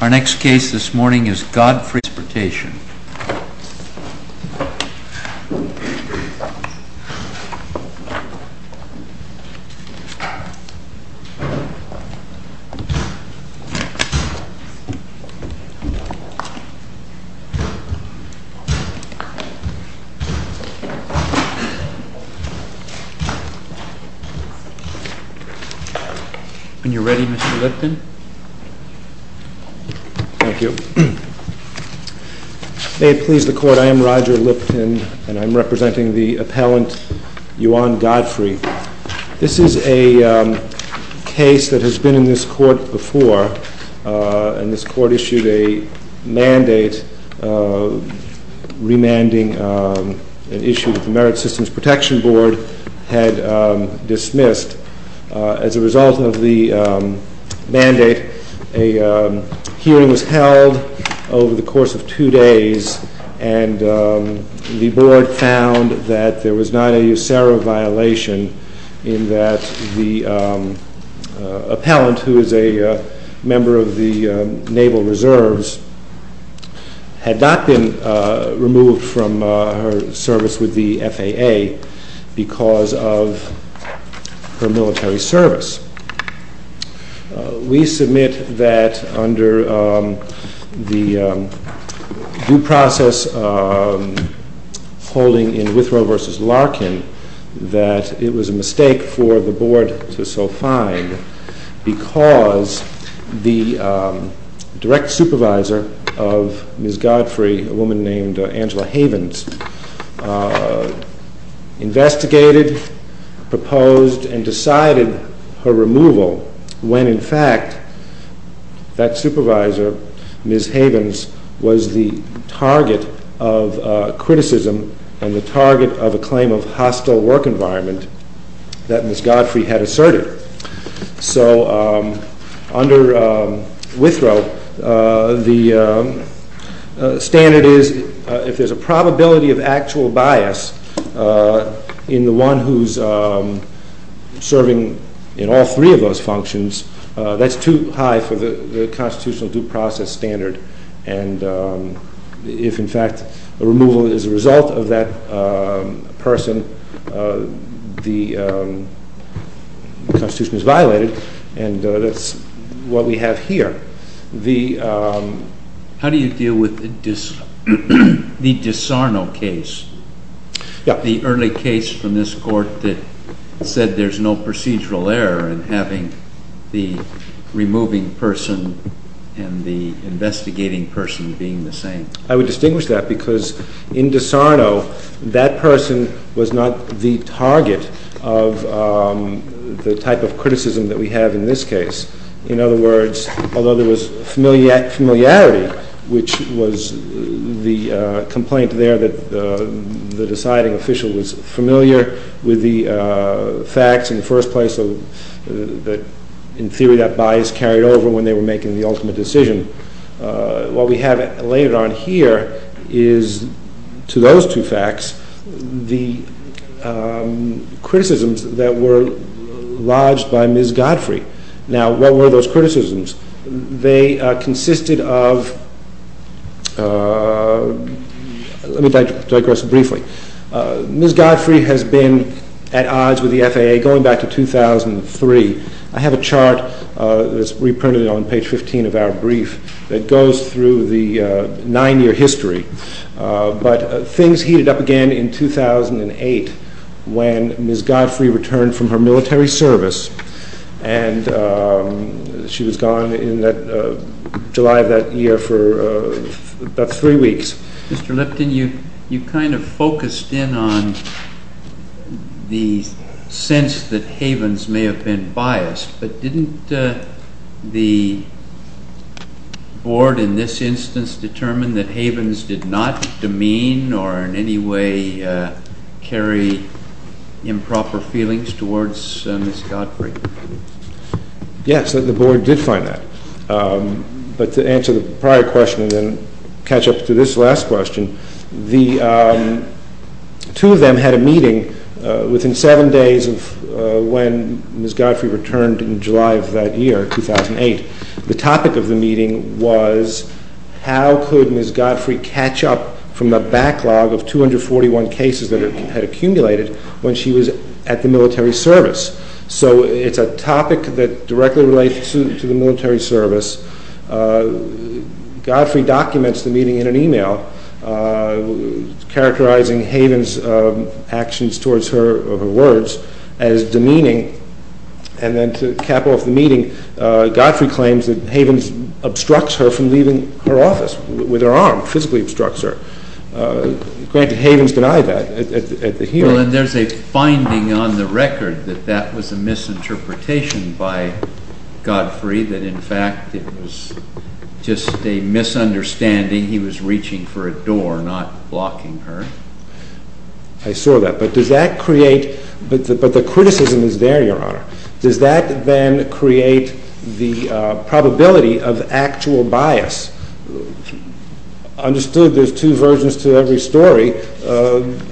Our next case this morning is GodFREY v. TRANSPORTATION When you're ready, Mr. Lipton. Thank you. May it please the Court, I am Roger Lipton, and I'm representing the appellant Yuan Godfrey. This is a case that has been in this Court before, and this Court issued a mandate remanding an issue that the Merit Systems Protection Board had dismissed as a result of the mandate. A hearing was held over the course of two days, and the Board found that there was not a USARA violation in that the appellant, who is a member of the Naval Reserves, had not been removed from her service with the FAA because of her military service. We submit that under the due process holding in Withrow v. Larkin, that it was a mistake for the Board to so find, because the direct supervisor of Ms. Godfrey, a woman proposed and decided her removal when, in fact, that supervisor, Ms. Havens, was the target of criticism and the target of a claim of hostile work environment that Ms. Godfrey had asserted. So under Withrow, the standard is if there's a probability of actual bias in the one who's serving in all three of those functions, that's too high for the constitutional due process standard, and if, in fact, a removal is a result of that person, the Constitution is violated, and that's what we have here. How do you deal with the DiSarno case, the early case from this Court that said there's no procedural error in having the removing person and the investigating person being the same? I would distinguish that because in DiSarno, that person was not the target of the type of criticism that we have in this case. In other words, although there was familiarity, which was the complaint there that the deciding official was familiar with the facts in the first place that, in theory, that bias carried over when they were making the ultimate decision, what we have later on here is, to those two facts, the criticisms that were lodged by Ms. Godfrey. Now, what were those criticisms? They consisted of—let me digress briefly. Ms. Godfrey has been at odds with the FAA going back to 2003. I have a chart that's goes through the nine-year history, but things heated up again in 2008 when Ms. Godfrey returned from her military service, and she was gone in July of that year for about three weeks. Mr. Lipton, you kind of focused in on the sense that Havens may have been biased, but didn't the board in this instance determine that Havens did not demean or in any way carry improper feelings towards Ms. Godfrey? Yes, the board did find that, but to answer the prior question and then catch up to this last question, two of them had a meeting within seven days of when Ms. Godfrey returned in July of that year, 2008. The topic of the meeting was, how could Ms. Godfrey catch up from the backlog of 241 cases that had accumulated when she was at the military service? So, it's a topic that directly relates to the military service. Godfrey documents the meeting in an email characterizing Havens' actions towards her words as demeaning, and then to cap off the meeting, Godfrey claims that Havens obstructs her from leaving her office with her arm, physically obstructs her. Granted, Havens denied that at the hearing. Well, and there's a finding on the record that that was a misinterpretation by Godfrey, that in fact it was just a misunderstanding. He was reaching for a door, not blocking her. I saw that, but does that create, but the criticism is there, Your Honor. Does that then create the probability of actual bias? Understood there's two versions to every story,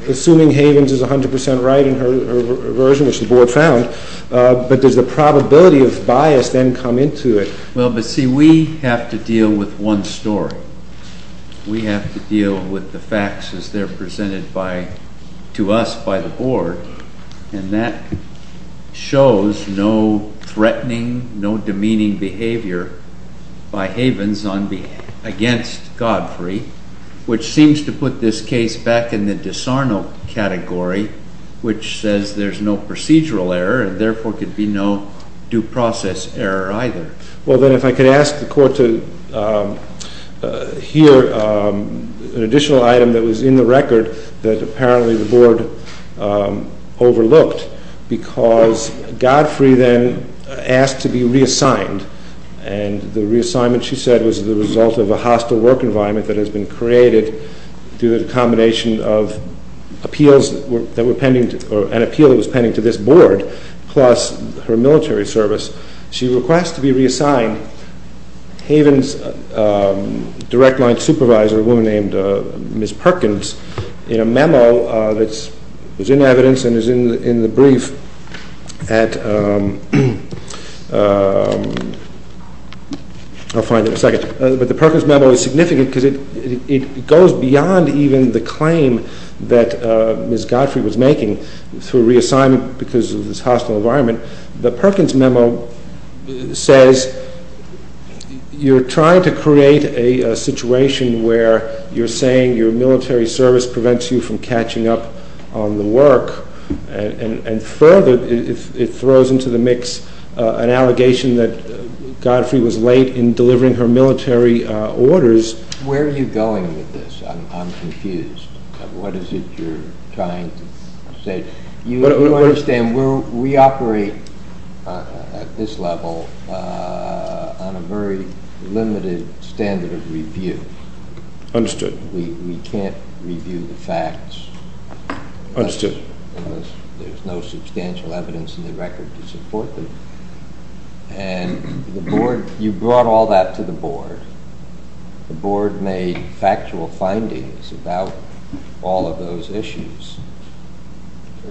assuming Havens is 100 percent right in her version, which the board found, but does the probability of bias then come into it? Well, but see, we have to deal with one story. We have to deal with the facts as they're presented to us by the board, and that shows no threatening, no demeaning behavior by Havens against Godfrey, which seems to put this case back in the disarmal category, which says there's no procedural error, and therefore could be no due process error either. Well, then if I could ask the court to hear an additional item that was in the record that apparently the board overlooked, because Godfrey then asked to be reassigned, and the reassignment, she said, was the result of a hostile work environment that has been created through the combination of appeals that were pending, or an appeal that was pending to this board, plus her military service. She requests to be reassigned. Havens' direct line supervisor, a woman named Ms. Perkins, in a memo that's, is in evidence and is in the brief at, I'll find it in a second, but the Perkins memo is significant because it goes beyond even the claim that Ms. Godfrey was making through reassignment because of this hostile environment. The Perkins memo says you're trying to create a situation where you're saying your military service prevents you from catching up on the work, and further it Where are you going with this? I'm confused. What is it you're trying to say? You understand we operate at this level on a very limited standard of review. Understood. We can't review the facts. Understood. There's no substantial evidence in the record to support them, and the board, you brought all that to the board. The board made factual findings about all of those issues.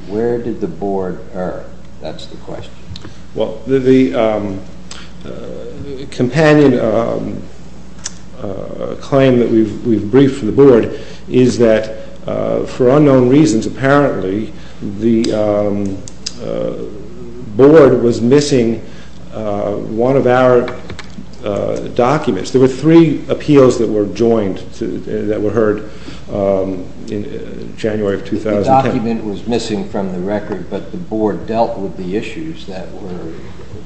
Where did the board err? That's the question. Well, the companion claim that we've briefed for the board is that for unknown reasons, apparently, the documents, there were three appeals that were joined, that were heard in January of 2010. The document was missing from the record, but the board dealt with the issues that were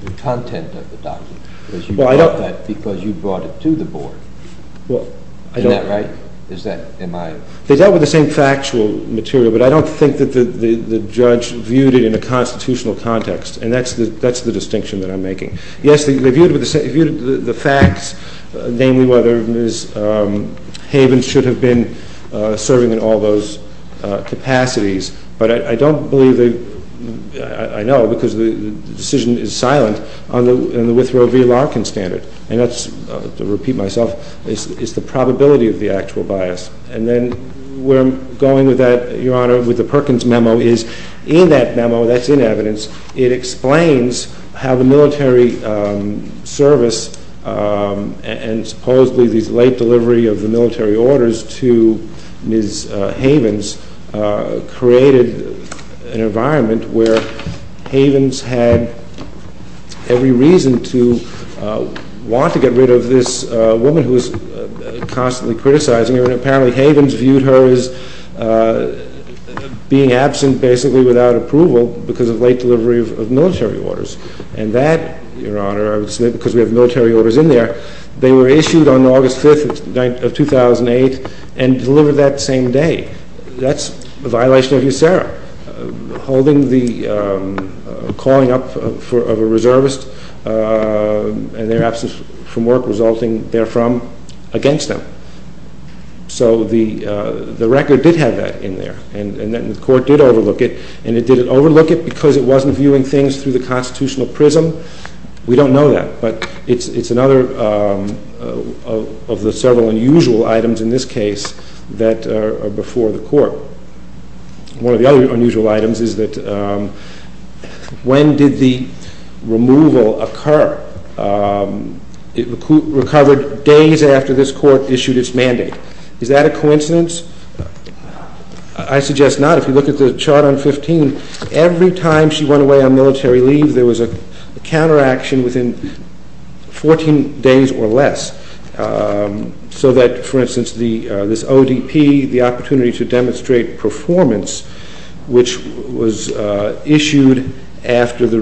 the content of the document because you brought it to the board. Well, I don't. Isn't that right? Is that, am I? They dealt with the same factual material, but I don't think that the judge viewed it in a constitutional context, and that's the distinction that I'm making. The fact, namely, whether Ms. Havens should have been serving in all those capacities, but I don't believe, I know, because the decision is silent on the Withrow v. Larkin standard, and that's, to repeat myself, it's the probability of the actual bias, and then we're going with that, Your Honor, with the Perkins memo, is in that memo, that's in evidence, it explains how the military service and supposedly this late delivery of the military orders to Ms. Havens created an environment where Havens had every reason to want to get rid of this woman who was constantly criticizing her, and apparently Havens viewed her as being absent, basically, without approval because of late delivery of military orders, and that, Your Honor, I would submit because we have military orders in there, they were issued on August 5th of 2008 and delivered that same day. That's a violation of USERRA, holding the calling up of a reservist and their absence from work resulting therefrom against them. So the record did have that in there, and the court did overlook it, and it didn't overlook it because it wasn't viewing things through the constitutional prism. We don't know that, but it's another of the several unusual items in this case that are before the court. One of the other unusual items is that when did the removal occur? It recovered days after this court issued its mandate. Is that a coincidence? I suggest not. If you look at the chart on 15, every time she went away on military leave, there was a counteraction within 14 days or less, so that, for instance, this ODP, the opportunity to demonstrate performance, which was issued after the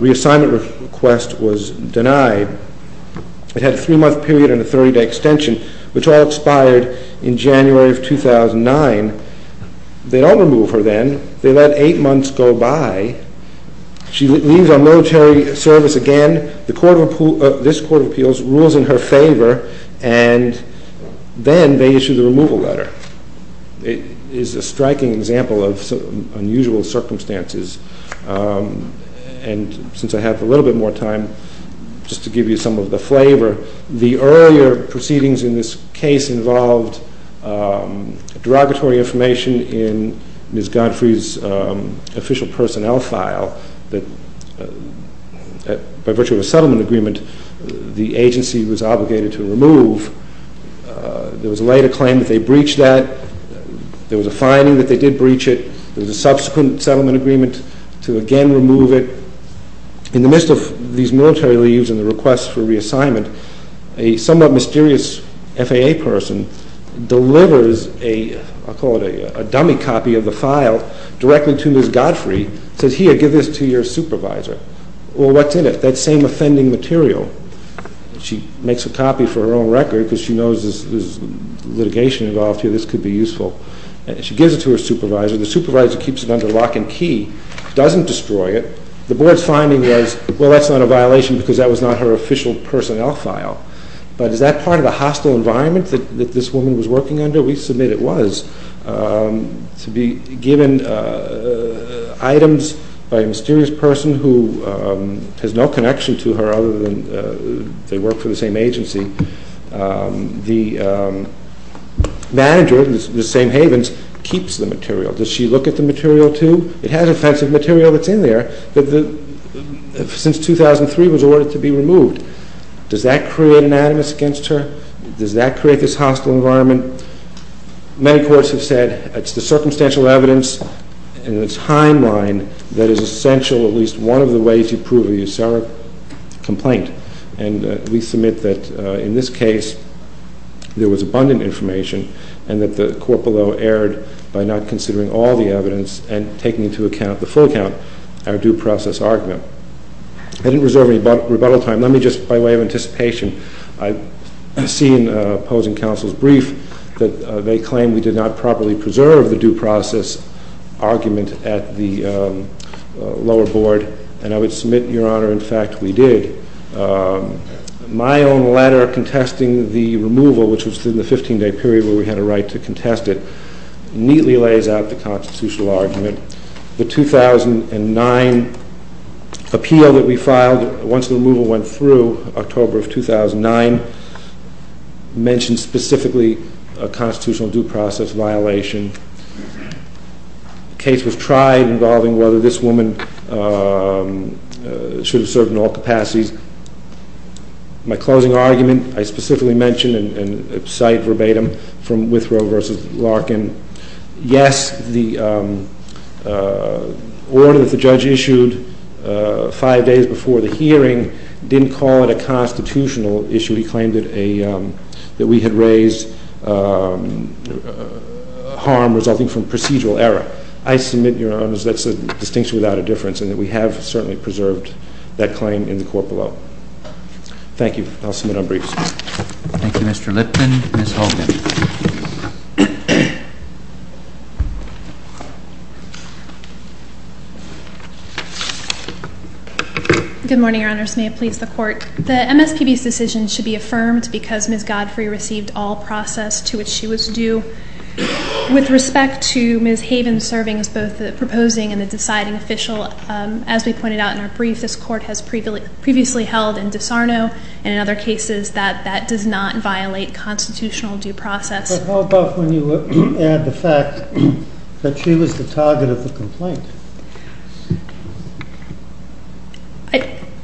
reassignment request was denied, it had a three-month period and a 30-day extension, which all expired in January of 2009. They don't remove her then. They let eight months go by. She leaves our military service again. This Court of Appeals rules in her favor, and then they issue the removal letter. It is a striking example of unusual circumstances, and since I have a little bit more time, just to give you some of the flavor, the earlier proceedings in this case involved derogatory information in Ms. Godfrey's official personnel file that, by virtue of a settlement agreement, the agency was obligated to remove. There was a later claim that they breached that. There was a finding that they did breach it. There was a subsequent settlement agreement to again remove it. In the midst of these military leaves and the requests for reassignment, a somewhat mysterious FAA person delivers a, I'll call it a dummy copy of the file, directly to Ms. Godfrey, says, here, give this to your supervisor. Well, what's in it? That same offending material. She makes a copy for her own record because she knows there's litigation involved here. This could be useful. She gives it to her supervisor. The supervisor keeps it under lock and key, doesn't destroy it. The board's finding was, well, that's not a violation because that was not her official personnel file, but is that part of the hostile environment that this woman was working under? We submit it was. To be given items by a mysterious person who has no connection to her other than they work for the same agency, the manager, the same Havens, keeps the material. Does she look at the material too? It has offensive material that's in there that since 2003 was ordered to be removed. Does that create an animus against her? Does that create this hostile environment? Many courts have said it's the circumstantial evidence and the timeline that is essential, at least one of the ways you prove a USARA complaint. And we submit that in this case, there was abundant information and that the court below erred by not considering all the evidence and taking into account the full account, our due process argument. I didn't reserve any rebuttal time. Let me just, by way of anticipation, I've seen opposing counsel's brief that they claim we did not properly preserve the due process argument at the lower board. And I would submit, Your Honor, in fact, we did. My own letter contesting the removal, which was in the 15-day period where we had a right to contest it, neatly lays out the constitutional argument. The 2009 appeal that we filed once the removal went through, October of 2009, mentioned specifically a constitutional due process violation. The case was tried involving whether this woman should have served in all capacities. My closing argument, I specifically mention and cite verbatim from Withrow v. Larkin. Yes, the order that the judge issued five days before the hearing didn't call it a constitutional issue. He claimed that we had raised harm resulting from procedural error. I submit, Your Honors, that's a distinction without a difference and that we have certainly preserved that claim in the court below. Thank you. I'll submit our briefs. Thank you, Mr. Lipton. Ms. Hogan. Good morning, Your Honors. May it please the Court. The MSPB's decision should be affirmed because Ms. Godfrey received all process to which she was due. With respect to Ms. Haven serving as the proposing and the deciding official, as we pointed out in our brief, this Court has previously held in disarno and in other cases that that does not violate constitutional due process. But how about when you add the fact that she was the target of the complaint?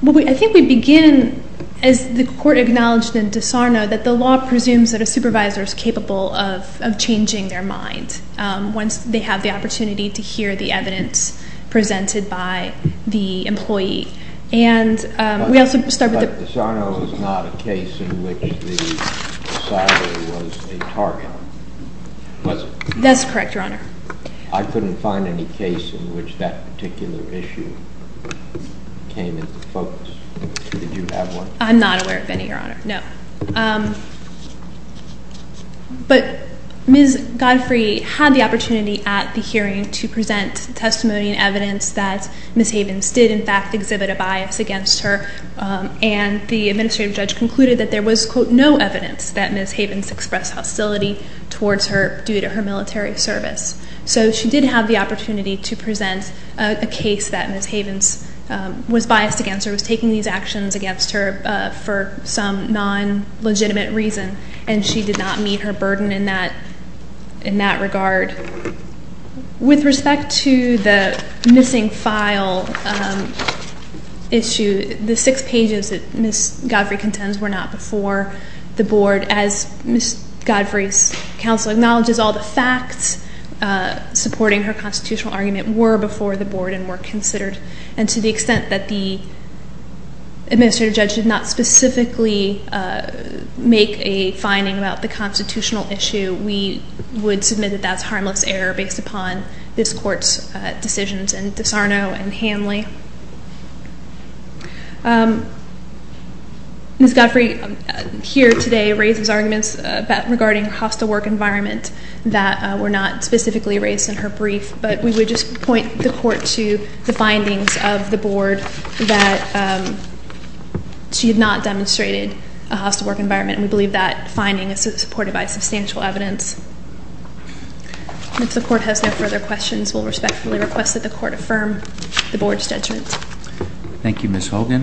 I think we begin, as the Court acknowledged in disarno, that the law presumes that a supervisor is capable of changing their mind once they have the opportunity to hear the evidence presented by the employee. And we also start with the... But disarno is not a case in which the decider was a target, was it? That's correct, Your Honor. I couldn't find any case in which that particular issue came into focus. Did you have one? I'm not aware of any, Your Honor. No. But Ms. Godfrey had the opportunity at the hearing to present testimony and evidence that Ms. Havens did, in fact, exhibit a bias against her. And the administrative judge concluded that there was, quote, no evidence that Ms. Havens expressed hostility towards her due to her military service. So she did have the opportunity to present a case that Ms. Havens was biased against her, was taking these actions against her for some non-legitimate reason. And she did not meet her burden in that regard. With respect to the missing file issue, the six pages that Ms. Godfrey contends were not before the Board, as Ms. Godfrey's counsel acknowledges, all the facts supporting her constitutional argument were before the Board and were considered. And to the extent that the administrative judge did not specifically make a finding about the constitutional issue, we would submit that that's harmless error based upon this Court's decisions and DiSarno and Hanley. Ms. Godfrey here today raises arguments regarding her hostile work environment that were not specifically raised in her brief, but we would just point the Court to the findings of the Board that she had not demonstrated a hostile work environment, and we believe that finding is supported by substantial evidence. And if the Court has no further questions, we'll respectfully request that the Court affirm the Board's judgment. Thank you, Ms. Hogan.